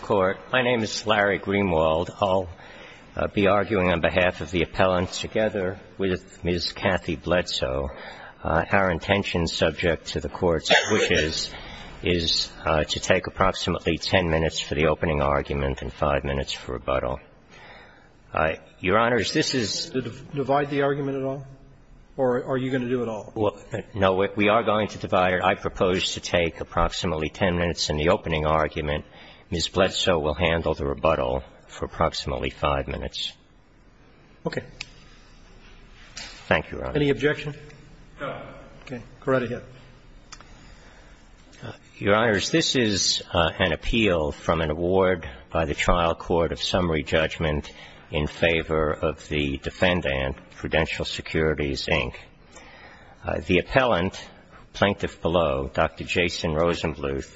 Court. My name is Larry Greenwald. I'll be arguing on behalf of the appellant together with Ms. Kathy Bledsoe. Our intention, subject to the Court's wishes, is to take approximately 10 minutes for the opening argument and 5 minutes for rebuttal. Your Honors, this is the divide the argument at all? Or are you going to do it all? No, we are going to divide it. I propose to take approximately 10 minutes in the argument. Ms. Bledsoe will handle the rebuttal for approximately 5 minutes. Okay. Thank you, Your Honor. Any objection? No. Okay. Go right ahead. Your Honors, this is an appeal from an award by the Trial Court of Summary Judgment in favor of the defendant, Prudential Securities, Inc. The appellant, Plaintiff below, Dr. Jason Rosenbluth,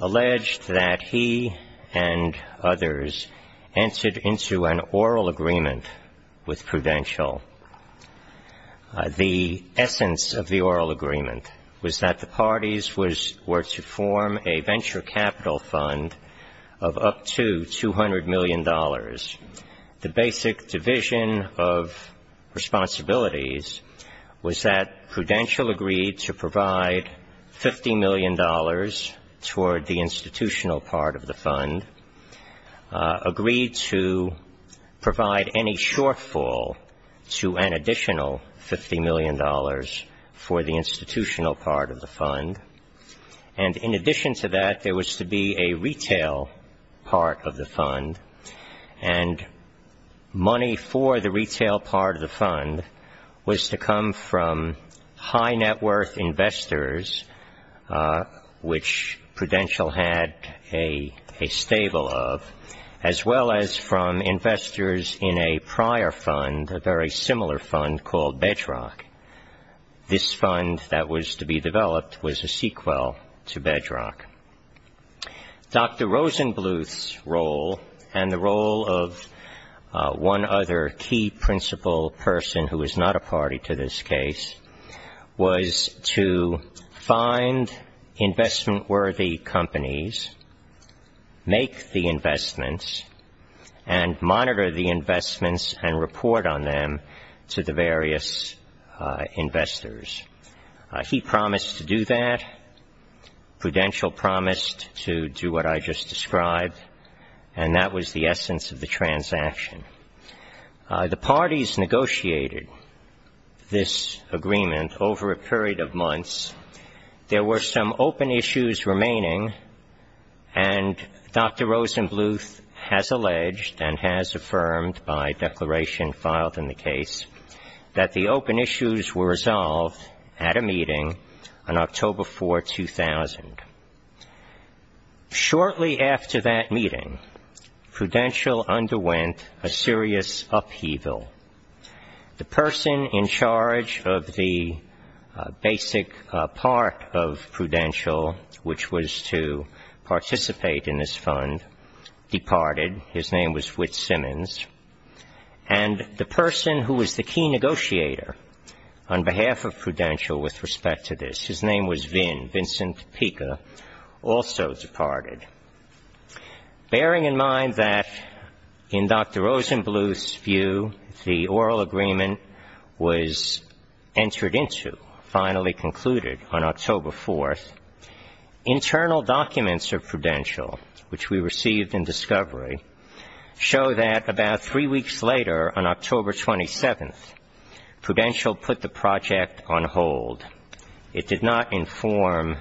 alleged that he and others entered into an oral agreement with Prudential. The essence of the oral agreement was that the parties were to form a venture capital fund of up to $200 million. The basic division of responsibilities was that Prudential agreed to provide $50 million toward the institutional part of the fund, agreed to provide any shortfall to an additional $50 million for the institutional part of the fund. And in addition to that, there was to be a retail part of the fund, and money for the retail part of the fund was to come from high net worth investors, which Prudential had a stable of, as well as from investors in a prior fund, a very similar fund called Bedrock. This fund that was to be developed was a sequel to Bedrock. Dr. Rosenbluth's role, and the role of one other key principal person who is not a party to this case, was to find investment-worthy companies, make the investments, and monitor the investments and report on them to the various investors. He promised to do that. Prudential promised to do what I just described, and that was the essence of the transaction. The parties negotiated this agreement over a period of months. There were some open issues remaining, and Dr. Rosenbluth has alleged and has affirmed by declaration filed in the 2000. Shortly after that meeting, Prudential underwent a serious upheaval. The person in charge of the basic part of Prudential, which was to participate in this fund, departed. His name was Whit Simmons. And the person who was the key negotiator on behalf of Prudential with respect to this, his name was Vin, Vincent Pica, also departed. Bearing in mind that in Dr. Rosenbluth's view, the oral agreement was entered into, finally concluded on October 4th, internal documents of Prudential, which we received in discovery, show that about three weeks later, on It did not inform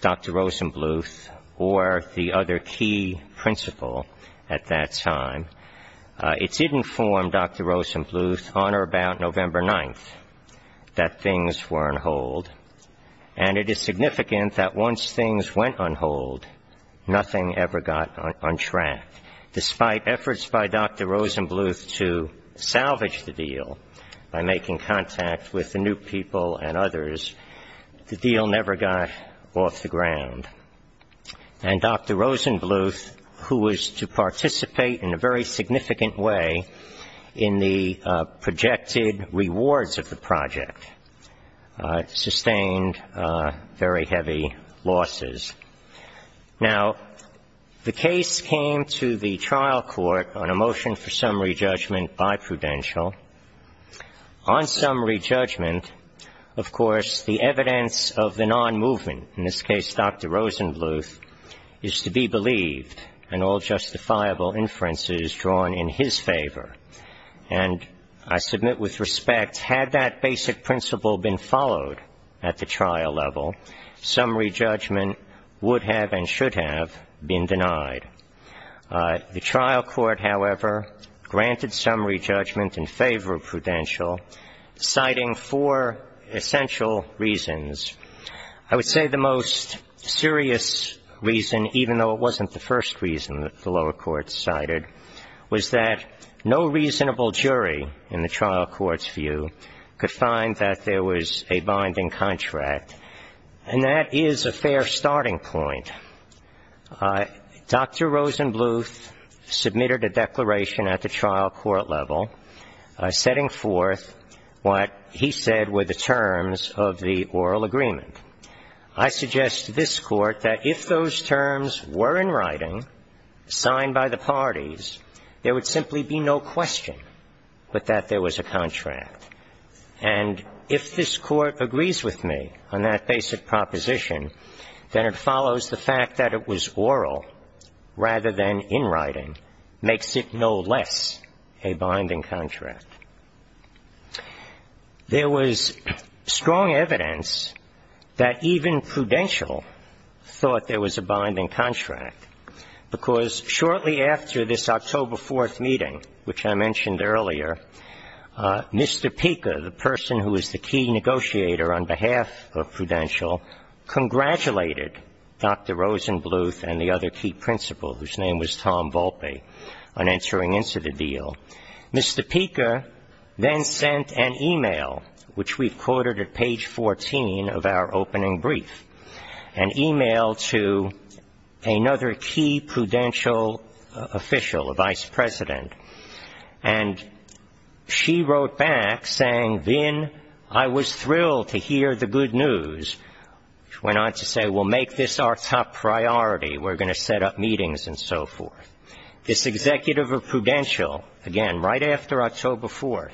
Dr. Rosenbluth or the other key principal at that time. It did inform Dr. Rosenbluth on or about November 9th that things were on hold. And it is significant that once things went on hold, nothing ever got on track. Despite efforts by Dr. Rosenbluth to salvage the deal by making contact with the new people and others, the deal never got off the ground. And Dr. Rosenbluth, who was to participate in a very significant way in the projected rewards of the project, sustained very heavy losses. Now, the case came to the trial court on a motion for summary judgment by Prudential. On summary judgment, of course, the evidence of the non-movement, in this case Dr. Rosenbluth, is to be believed, and all justifiable inferences drawn in his favor. And I submit with respect, had that basic principle been followed at the trial level, summary judgment would have and should have been denied. The trial court, however, granted summary judgment in favor of Prudential, citing four essential reasons. I would say the most serious reason, even though it wasn't the first reason that the lower court cited, was that no reasonable jury in the trial court's view could find that there was a binding contract. And that is a fair starting point. Dr. Rosenbluth submitted a declaration at the trial court level setting forth what he said were the terms of the oral agreement. I suggest to this Court that if those terms were in writing, signed by the parties, there would simply be no question but that there was a contract. And if this Court agrees with me on that basic proposition, then it follows the fact that it was oral rather than in writing, makes it no less a binding contract. There was strong evidence that even Prudential thought there was a binding contract, because shortly after this October 4th meeting, which I mentioned earlier, Mr. Pica, the person who was the key negotiator on behalf of Prudential, congratulated Dr. Rosenbluth and the other key principal, whose name was Tom Volpe, on entering into the deal. Mr. Pica then sent an e-mail, which we've quoted at page 14 of our opening brief, an e-mail to another key Prudential official, a vice president, and she wrote back saying, Vin, I was thrilled to hear the good news, which went on to say, well, make this our top priority. We're going to set up meetings and so forth. This executive of Prudential, again, right after October 4th,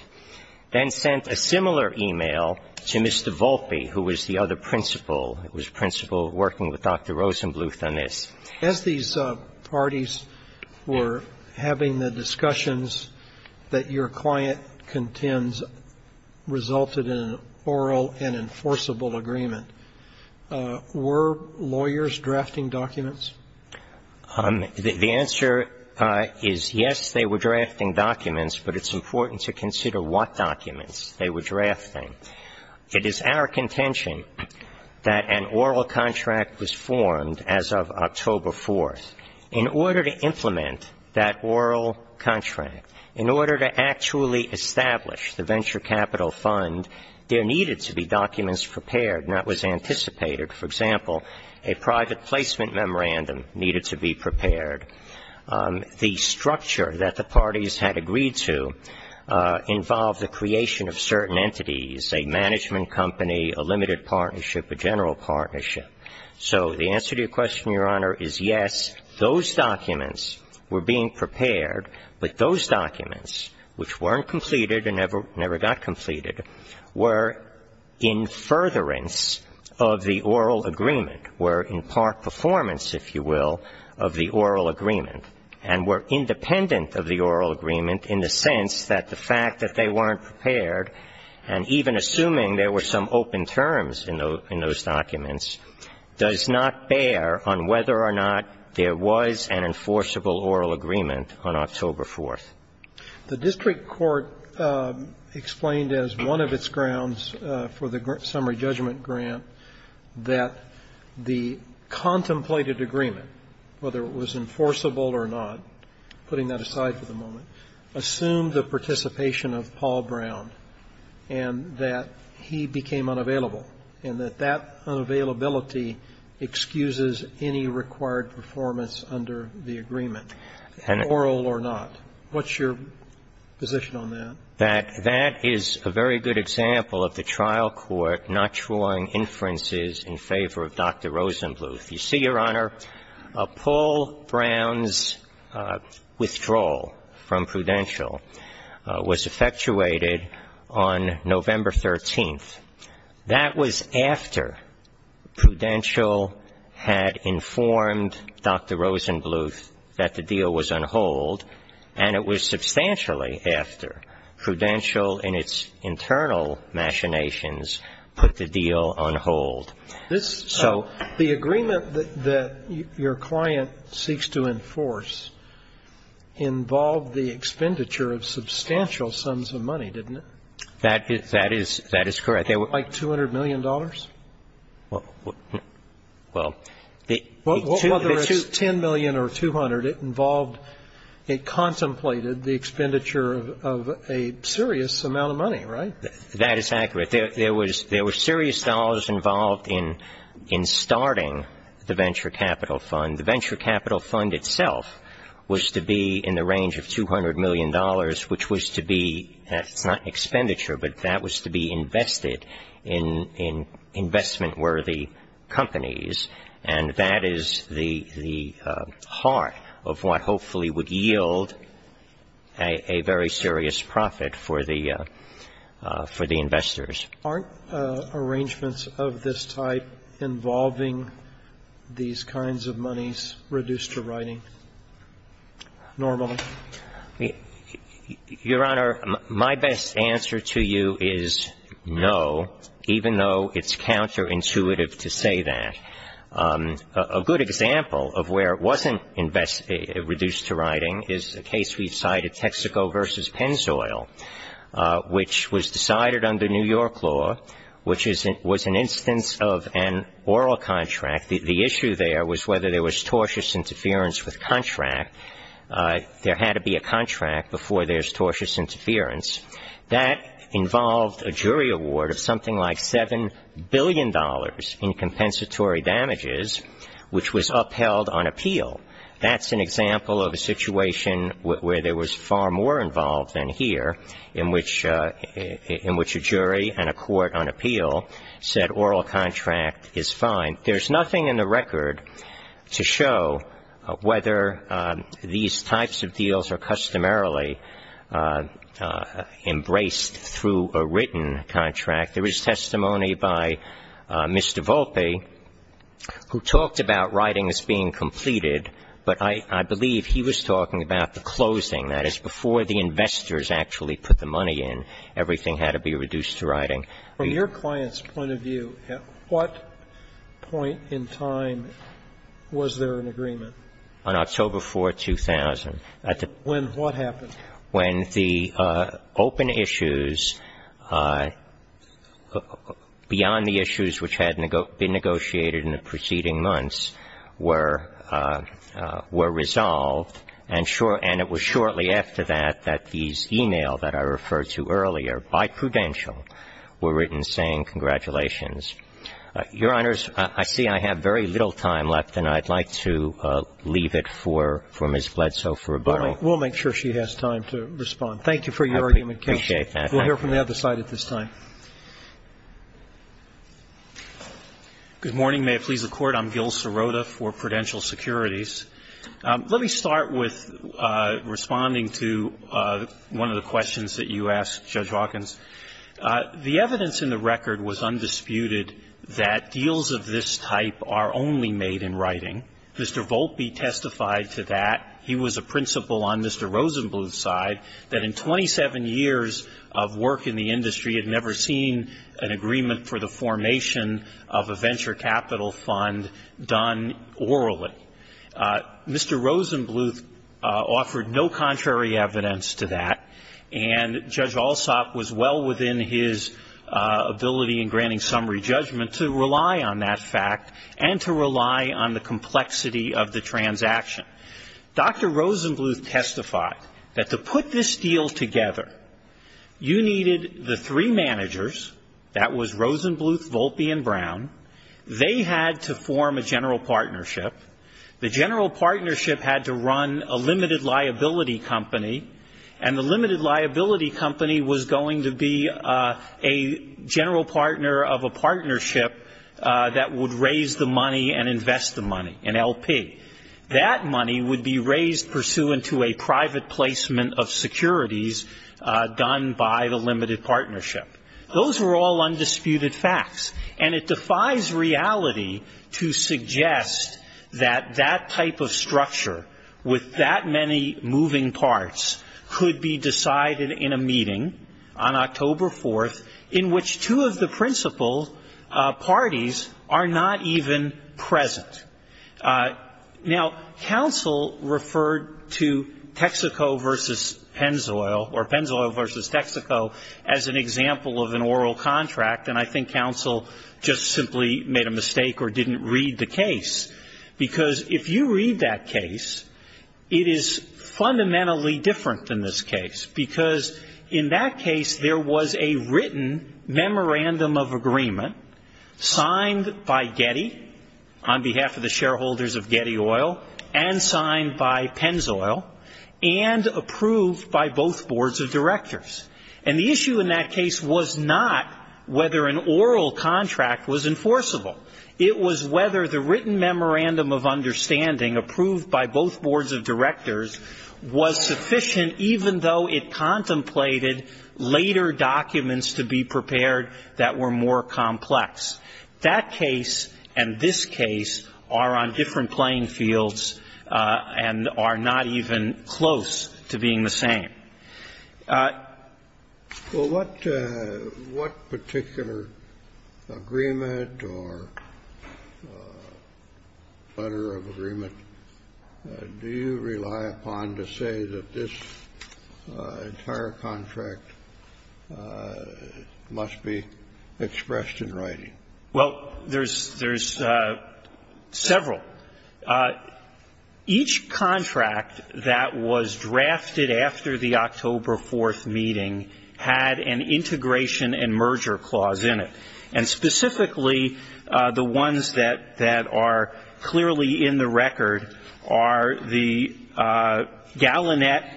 then sent a similar e-mail to Mr. Volpe, who was the other principal. It was principal working with Dr. Rosenbluth on this. As these parties were having the discussions that your client contends resulted in an oral and enforceable agreement, were lawyers drafting documents? The answer is, yes, they were drafting documents, but it's important to consider what documents they were drafting. It is our contention that an oral contract was formed as of October 4th. In order to implement that oral contract, in order to actually establish the venture capital fund, there needed to be documents prepared, and that was anticipated. For example, a private placement memorandum needed to be prepared. The structure that the parties had agreed to involved the creation of certain entities, a management company, a limited partnership, a general partnership. So the answer to your question, Your Honor, is yes, those documents were being prepared, but those documents, which weren't completed and never got completed, were in furtherance of the oral agreement, were in part performance, if you will, of the oral agreement, and were independent of the oral agreement in the sense that the fact that they weren't prepared, and even assuming there were some open terms in those documents, does not bear on whether or not there was an enforceable oral agreement on October 4th. The district court explained as one of its grounds for the summary judgment grant that the contemplated agreement, whether it was enforceable or not, putting that aside for the moment, assumed the participation of Paul Brown, and that he was not present at the trial, and that he became unavailable, and that that unavailability excuses any required performance under the agreement, oral or not. What's your position on that? That that is a very good example of the trial court not drawing inferences in favor of Dr. Rosenbluth. You see, Your Honor, Paul Brown's withdrawal from Prudential was effectuated on November 13th. That was after Prudential had informed Dr. Rosenbluth that the deal was on hold, and it was substantially after Prudential in its internal machinations put the deal on hold. So the agreement that your client seeks to enforce involves the fact that it involved the expenditure of substantial sums of money, didn't it? That is correct. Like $200 million? Well, the two of its 10 million or 200, it involved, it contemplated the expenditure of a serious amount of money, right? That is accurate. There was serious dollars involved in starting the Venture Capital Fund. And the Venture Capital Fund itself was to be in the range of $200 million, which was to be, it's not expenditure, but that was to be invested in investment-worthy companies, and that is the heart of what hopefully would yield a very serious profit for the investors. Aren't arrangements of this type involving these kinds of money in the form of a company's reduced-to-writing normality? Your Honor, my best answer to you is no, even though it's counterintuitive to say that. A good example of where it wasn't reduced-to-writing is a case we've cited, Texaco v. Pennzoil, which was decided under New York law, which was an instance of an oral contract. The issue there was whether there was tortious interference with contract. There had to be a contract before there's tortious interference. That involved a jury award of something like $7 billion in compensatory damages, which was upheld on appeal. That's an example of a situation where there was far more involved than here, in which a jury and a court on appeal said oral contract is fine. There's nothing in the record to show whether these types of deals are customarily embraced through a written contract. There is testimony by Mr. Volpe, who talked about writings being completed, but I believe he was talking about the closing, that is, before the investors actually put the money in, everything had to be reduced-to-writing. From your client's point of view, at what point in time was there an agreement? On October 4, 2000. When what happened? When the open issues, beyond the issues which had been negotiated in the preceding months, were resolved, and it was shortly after that that these e-mails that I referred to earlier, by prudential, were written saying, congratulations. Your Honors, I see I have very little time left, and I'd like to leave it for Ms. Bledsoe for a moment. We'll make sure she has time to respond. Thank you for your argument, Counsel. I appreciate that. We'll hear from the other side at this time. Good morning. May it please the Court. I'm Gil Sirota for Prudential Securities. Let me start with responding to one of the questions that you asked, Judge Hawkins. The evidence in the record was undisputed that deals of this type are only made in writing. Mr. Volpe testified to that. He was a principal on Mr. Rosenbluth's side, that in 27 years of work in the industry, we had never seen an agreement for the formation of a venture capital fund done orally. Mr. Rosenbluth offered no contrary evidence to that, and Judge Alsop was well within his ability in granting summary judgment to rely on that fact and to rely on the complexity of the transaction. Dr. Rosenbluth testified that to put this deal together, you needed the three managers. That was Rosenbluth, Volpe, and Brown. They had to form a general partnership. The general partnership had to run a limited liability company, and the limited liability company was going to be a general partner of a partnership that would raise the money and invest the money, an LP. That money would be raised pursuant to a private placement of securities done by the limited partnership. Those were all undisputed facts, and it defies reality to suggest that that type of structure with that many moving parts could be decided in a meeting on October 4th, in which two of the principal parties are not even present. Now, counsel referred to Texaco v. Pennzoil, or Pennzoil v. Texaco, as an example of an oral contract, and I think counsel just simply made a mistake or didn't read the case. Because if you read that case, it is fundamentally different than this case, because in that case, there was a written memorandum of agreement signed by Getty on behalf of the shareholders of Getty Oil and signed by Pennzoil and approved by both boards of directors. And the issue in that case was not whether an oral contract was enforceable. It was whether the written memorandum of understanding approved by both boards of directors was sufficient even though it contemplated later documents to be prepared that were more complex. That case and this case are on different playing fields and are not even close to being the same. Well, what particular agreement or letter of agreement do you rely upon to say that this entire contract must be expressed in writing? Well, there's several. Each contract that was drafted after the October 4th meeting had an integration and merger clause in it. And specifically, the ones that are clearly in the record are the Gallinet,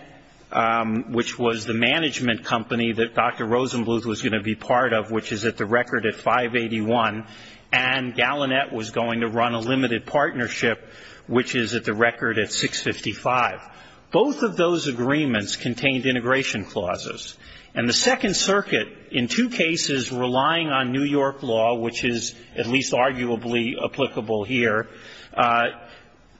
which was the management company that Dr. Rosenbluth was going to be part of, which is at the record at 581, and Gallinet was going to run a limited partnership, which is at the record at 655. Both of those agreements contained integration clauses. And the Second Circuit, in two cases relying on New York law, which is at least arguably applicable here,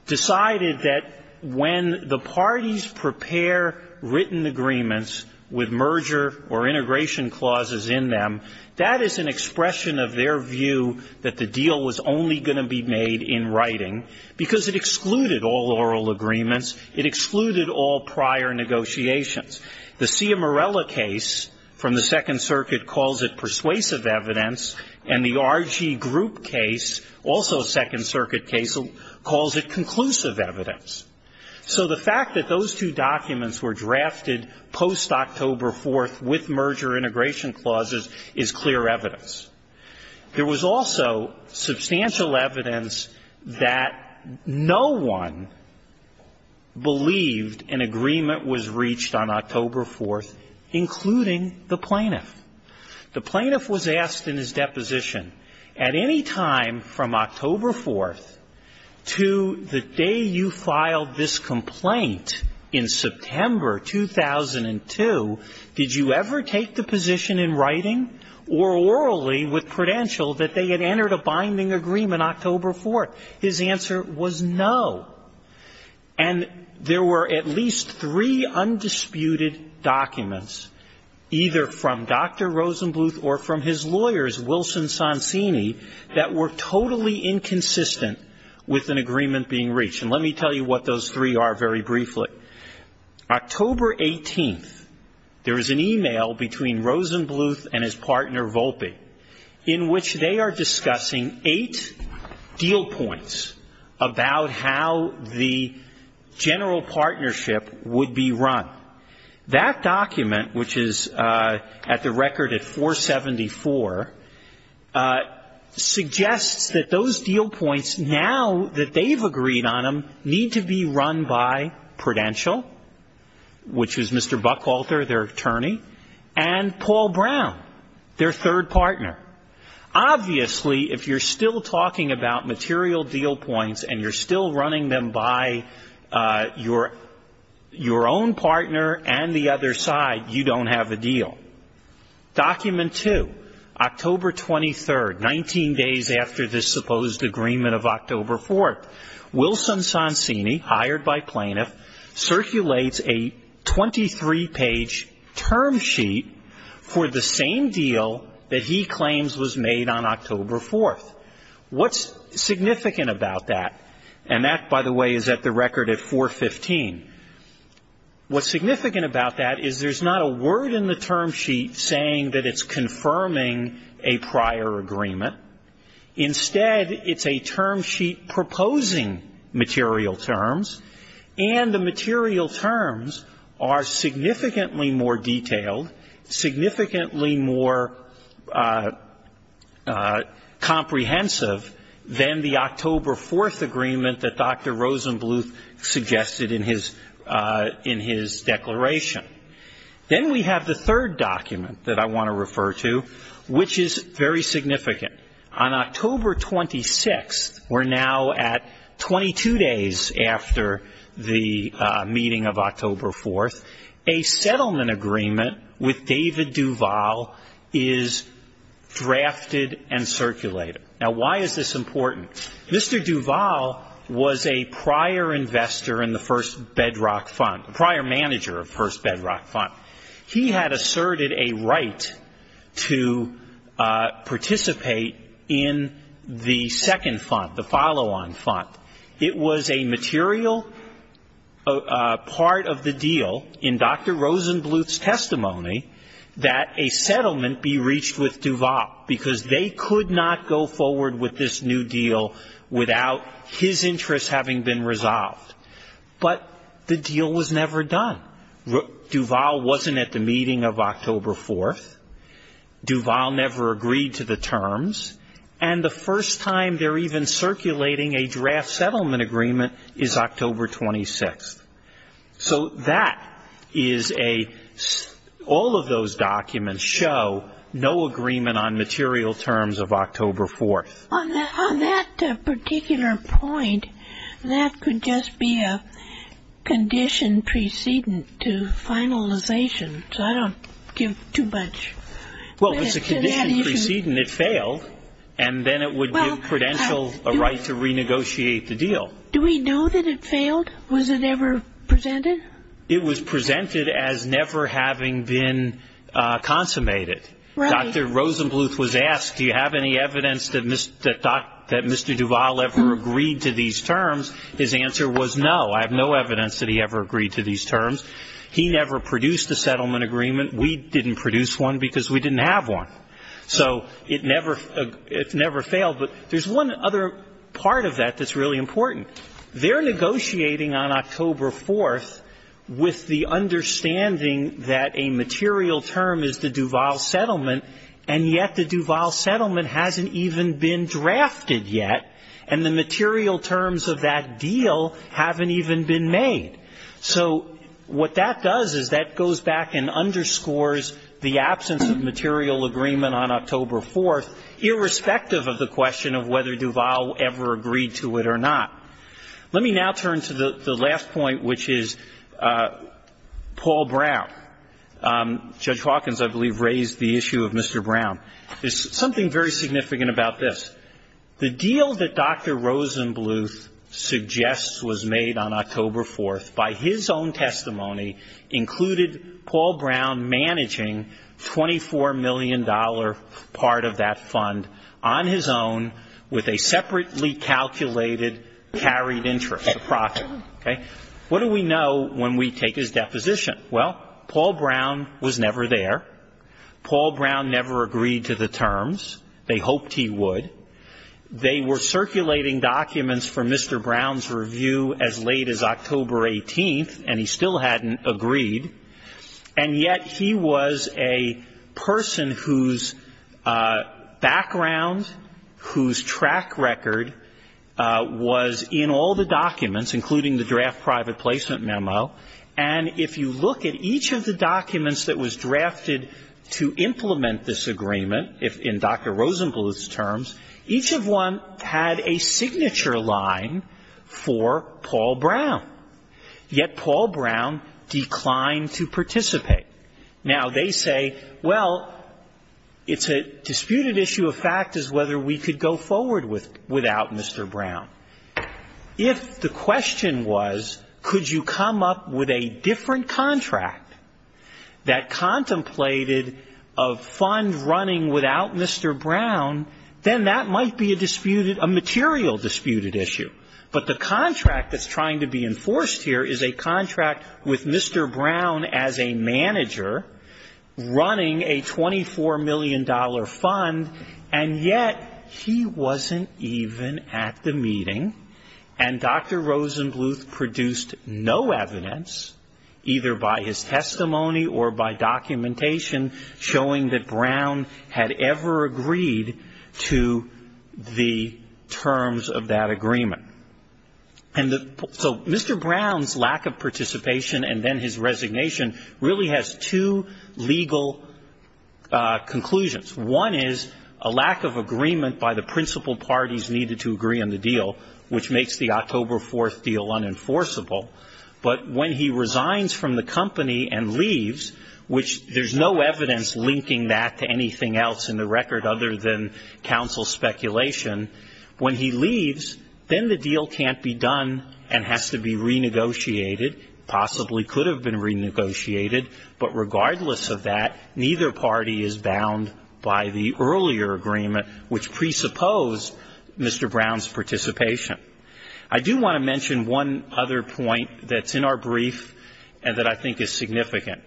decided that when the parties prepare written agreements with merger or integration clauses in them, that is an expression of their view that the deal was only going to be made in writing because it excluded all oral agreements. It excluded all prior negotiations. The Ciamarella case from the Second Circuit calls it persuasive evidence, and the RG Group case, also a Second Circuit case, calls it conclusive evidence. So the fact that those two documents were drafted post-October 4th with merger integration clauses is clear evidence. There was also substantial evidence that no one believed an agreement was reached on October 4th, including the plaintiff. The plaintiff was asked in his deposition, at any time from October 4th to the day you filed this complaint in September 2002, did you ever take the position in writing or orally with credential that they had entered a binding agreement October 4th? His answer was no. And there were at least three undisputed documents, either from Dr. Rosenbluth or from his lawyers, Wilson Sonsini, that were totally inconsistent with an agreement being reached. And let me tell you what those three are very briefly. October 18th, there is an e-mail between Rosenbluth and his partner Volpe in which they are discussing eight deal points about how the general partnership would be run. That document, which is at the record at 474, suggests that those deal points, now that they've agreed on them, need to be run by Prudential, which is Mr. Buckalter, their attorney, and Paul Brown, their third partner. Obviously, if you're still talking about material deal points and you're still running them by your own partner and the other side, you don't have a deal. Document two, October 23rd, 19 days after this supposed agreement of October 4th, Wilson Sonsini, hired by plaintiff, circulates a 23-page term sheet for the same deal that he claims was made on October 4th. What's significant about that, and that, by the way, is at the record at 415, what's significant about that is there's not a word in the term sheet saying that it's confirming a prior agreement. Instead, it's a term sheet proposing material terms, and the material terms are significantly more detailed, significantly more comprehensive than the October 4th agreement that Dr. Rosenbluth suggested in his declaration. Then we have the third document that I want to refer to, which is very significant. On October 26th, we're now at 22 days after the meeting of October 4th, a settlement agreement with David Duval is drafted and circulated. Now why is this important? Mr. Duval was a prior investor in the First Bedrock Fund, prior manager of First Bedrock Fund. He had asserted a right to participate in the second fund, the follow-on fund. It was a material part of the deal in Dr. Rosenbluth's testimony that a settlement be reached with Duval, because they could not go forward with this new deal without his interests having been resolved. But the deal was never done. Duval wasn't at the meeting of October 4th. Duval never agreed to the terms. And the first time they're even circulating a draft settlement agreement is October 26th. So that is a – all of those documents show no agreement on material terms of October 4th. On that particular point, that could just be a condition preceding to finalization. So I don't give too much. Well, it's a condition preceding it failed, and then it would give Prudential a right to renegotiate the deal. Do we know that it failed? Was it ever presented? It was presented as never having been consummated. Dr. Rosenbluth was asked, do you have any evidence that Mr. Duval ever agreed to these terms? His answer was no, I have no evidence that he ever agreed to these terms. He never produced a settlement agreement. We didn't produce one because we didn't have one. So it never failed. But there's one other part of that that's really important. They're negotiating on October 4th with the understanding that a material term is the Duval settlement, and yet the Duval settlement hasn't even been drafted yet, and the material terms of that deal haven't even been made. So what that does is that goes back and underscores the absence of material agreement on October 4th, irrespective of the question of whether Duval ever agreed to it or not. Let me now turn to the last point, which is Paul Brown. Judge Hawkins, I believe, raised the issue of Mr. Brown. There's something very significant about this. The deal that Dr. Rosenbluth suggests was made on October 4th by his own testimony included Paul Brown managing $24 million part of that fund on his own with a separately calculated carried interest, a profit. What do we know when we take his deposition? Well, Paul Brown was never there. Paul Brown never agreed to the terms. They hoped he would. They were circulating documents for Mr. Brown's review as late as October 18th, and he still hadn't agreed, and yet he was a person whose background, whose track record was in all the documents, including the draft private placement memo, and if you look at each of the documents that was drafted to implement this agreement in Dr. Rosenbluth's terms, each of one had a signature line for Paul Brown, yet Paul Brown declined to participate. Now, they say, well, it's a disputed issue of fact as whether we could go forward without Mr. Brown. If the question was, could you come up with a different contract that contemplated a fund running without Mr. Brown, then that might be a disputed, a material disputed issue, but the contract that's trying to be enforced here is a contract with Mr. Brown as a manager running a $24 million fund, and yet he wasn't even at the meeting. And Dr. Rosenbluth produced no evidence, either by his testimony or by documentation, showing that Brown had ever agreed to the terms of that agreement. And so Mr. Brown's lack of participation and then his resignation really has two legal conclusions. One is a lack of agreement by the principal parties needed to agree on the deal, which makes the October 4th deal unenforceable. But when he resigns from the company and leaves, which there's no evidence linking that to anything else in the record other than counsel speculation, when he leaves, then the deal can't be done and has to be renegotiated, possibly could have been renegotiated, but regardless of that, neither party is bound by the earlier agreement, which presupposed Mr. Brown's participation. I do want to mention one other point that's in our brief and that I think is significant.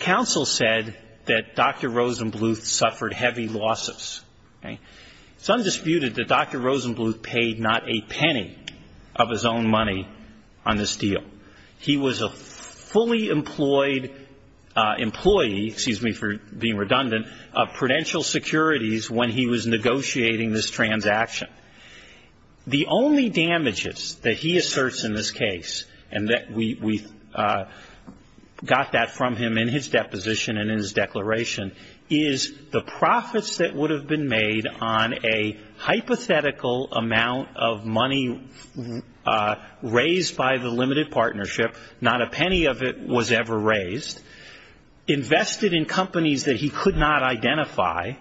Counsel said that Dr. Rosenbluth suffered heavy losses. It's undisputed that Dr. Rosenbluth paid not a penny of his own money on this deal. He was a fully employed employee, excuse me for being redundant, of Prudential Securities when he was negotiating this transaction. The only damages that he asserts in this case, and we got that from him in his deposition and in his declaration, is the profits that would have been made on a hypothetical amount of money raised by the limited partnership, not a penny of it was ever raised, invested in companies that he could not identify,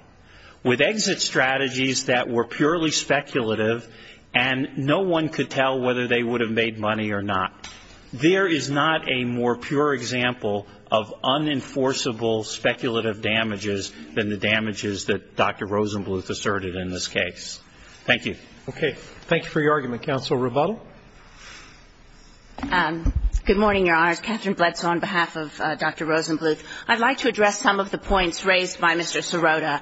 with exit strategies that were purely speculative, and no one could tell whether they would have made money or not. There is not a more pure example of unenforceable speculative damages than the damages that Dr. Rosenbluth asserted in this case. Thank you. Okay. Thank you for your argument. Counsel Rebuttal. Good morning, Your Honors. Catherine Bledsoe on behalf of Dr. Rosenbluth. I'd like to address some of the points raised by Mr. Sirota,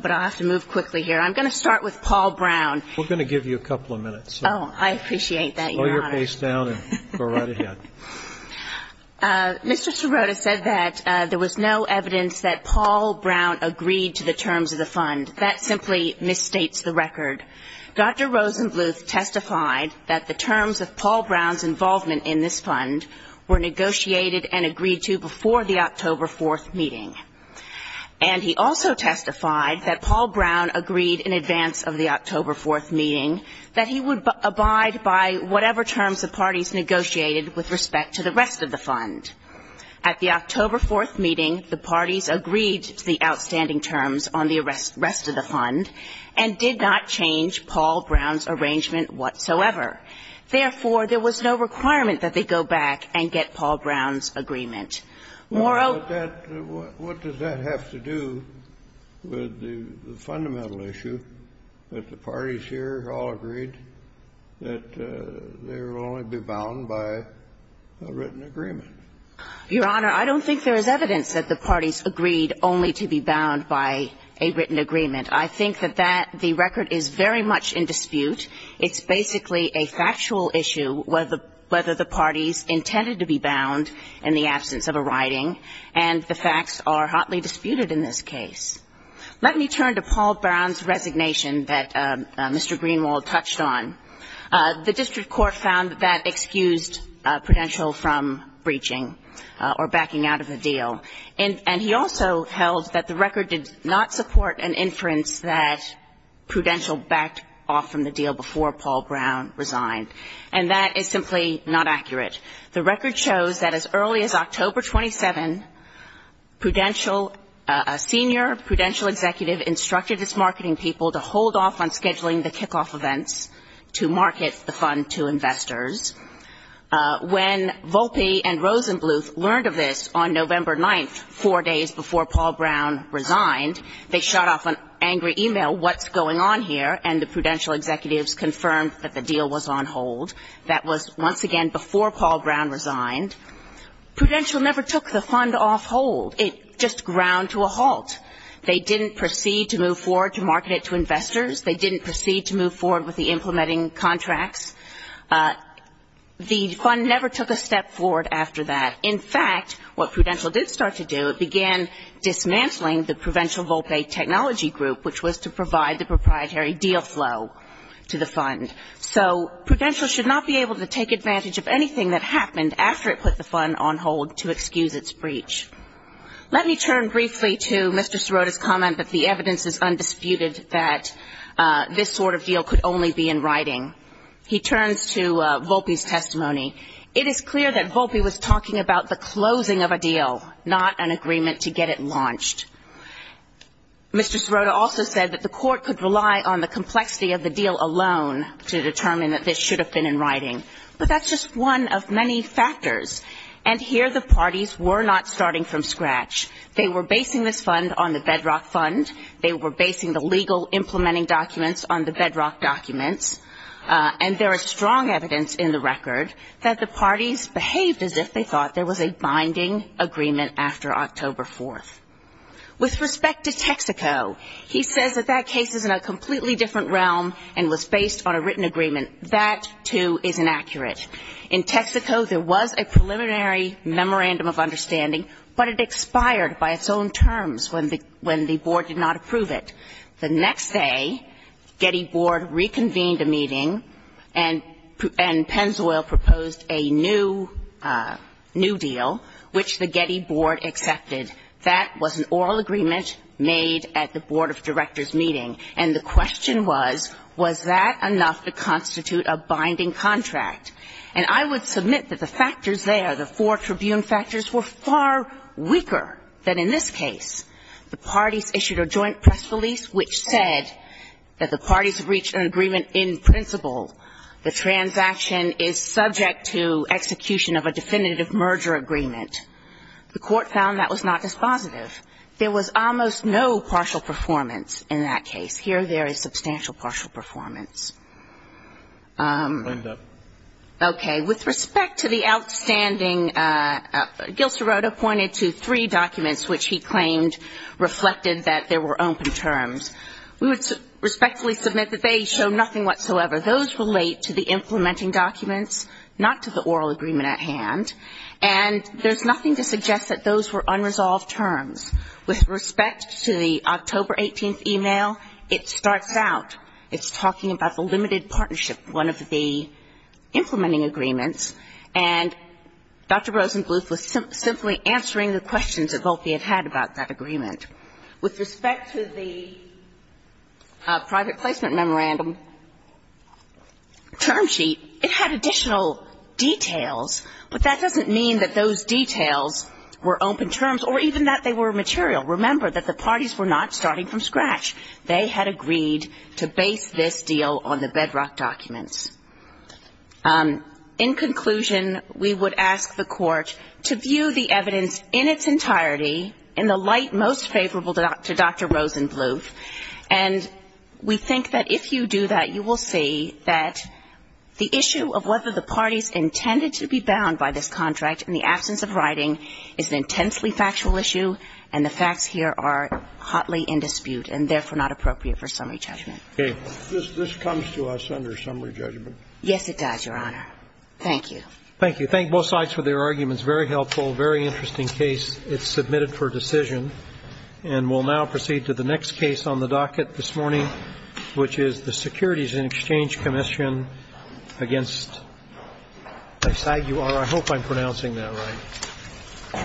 but I'll have to move quickly here. I'm going to start with Paul Brown. We're going to give you a couple of minutes. Oh, I appreciate that, Your Honor. Slow your pace down and go right ahead. Mr. Sirota said that there was no evidence that Paul Brown agreed to the terms of the fund. That simply misstates the record. Dr. Rosenbluth testified that the terms of Paul Brown's involvement in this fund were negotiated and agreed to before the October 4th meeting. And he also testified that Paul Brown agreed in advance of the October 4th meeting that he would abide by whatever terms the parties negotiated with respect to the rest of the fund. At the October 4th meeting, the parties agreed to the outstanding terms on the rest of the fund and did not change Paul Brown's arrangement whatsoever. Therefore, there was no requirement that they go back and get Paul Brown's agreement. Moreover What does that have to do with the fundamental issue that the parties here all agreed that they will only be bound by a written agreement? Your Honor, I don't think there is evidence that the parties agreed only to be bound by a written agreement. I think that that the record is very much in dispute. It's basically a factual issue whether the parties intended to be bound in the absence of a writing, and the facts are hotly disputed in this case. Let me turn to Paul Brown's resignation that Mr. Greenwald touched on. The district court found that that excused Prudential from breaching or backing out of the deal. And he also held that the record did not support an inference that Prudential backed off from the deal before Paul Brown resigned. And that is simply not accurate. The record shows that as early as October 27, Prudential, a senior Prudential executive instructed its marketing people to hold off on scheduling the kickoff events to market the fund to investors. When Volpe and Rosenbluth learned of this on November 9th, four days before Paul Brown resigned, they shot off an angry e-mail, what's going on here? And the Prudential executives confirmed that the deal was on hold. That was, once again, before Paul Brown resigned. Prudential never took the fund off hold. It just ground to a halt. They didn't proceed to move forward to market it to investors. They didn't proceed to move forward with the implementing contracts. The fund never took a step forward after that. In fact, what Prudential did start to do, it began dismantling the Prudential Volpe Technology Group, which was to provide the proprietary deal flow to the fund. So Prudential should not be able to take advantage of anything that happened after it put the fund on hold to excuse its breach. Let me turn briefly to Mr. Sirota's comment that the evidence is undisputed that this sort of deal could only be in writing. He turns to Volpe's testimony. It is clear that Volpe was talking about the closing of a deal, not an agreement to get it launched. Mr. Sirota also said that the court could rely on the complexity of the deal alone to determine that this should have been in writing. But that's just one of many factors. And here the parties were not starting from scratch. They were basing this fund on the bedrock fund. They were basing the legal implementing documents on the bedrock documents. And there is strong evidence in the record that the parties behaved as if they thought there was a binding agreement after October 4th. With respect to Texaco, he says that that case is in a completely different realm and was based on a written agreement. That, too, is inaccurate. In Texaco, there was a preliminary memorandum of understanding, but it expired by its own terms when the board did not approve it. The next day, Getty Board reconvened a meeting and Pennzoil proposed a new deal, which the Getty Board accepted. And the question was, was that enough to constitute a binding contract? And I would submit that the factors there, the four tribune factors, were far weaker than in this case. The parties issued a joint press release, which said that the parties reached an agreement in principle. The transaction is subject to execution of a definitive merger agreement. The court found that was not dispositive. There was almost no partial performance in that case. Here, there is substantial partial performance. Okay. With respect to the outstanding, Gil Serota pointed to three documents which he claimed reflected that there were open terms. We would respectfully submit that they show nothing whatsoever. Those relate to the implementing documents, not to the oral agreement at hand. And there's nothing to suggest that those were unresolved terms. With respect to the October 18th email, it starts out, it's talking about the limited partnership, one of the implementing agreements. And Dr. Rosenbluth was simply answering the questions that Volpe had had about that agreement. With respect to the private placement memorandum term sheet, it had additional details. But that doesn't mean that those details were open terms or even that they were material. Remember that the parties were not starting from scratch. They had agreed to base this deal on the bedrock documents. In conclusion, we would ask the Court to view the evidence in its entirety in the light most favorable to Dr. Rosenbluth. And we think that if you do that, you will see that the issue of whether the parties intended to be bound by this contract in the absence of writing is an intensely factual issue, and the facts here are hotly in dispute and therefore not appropriate for summary judgment. This comes to us under summary judgment. Yes, it does, Your Honor. Thank you. Thank you. Thank both sides for their arguments. Very helpful, very interesting case. It's submitted for decision. And we'll now proceed to the next case on the docket this morning, which is the Securities and Exchange Commission against, I'm sorry, you are, I hope I'm pronouncing that right. I'm sure counsel will correct me.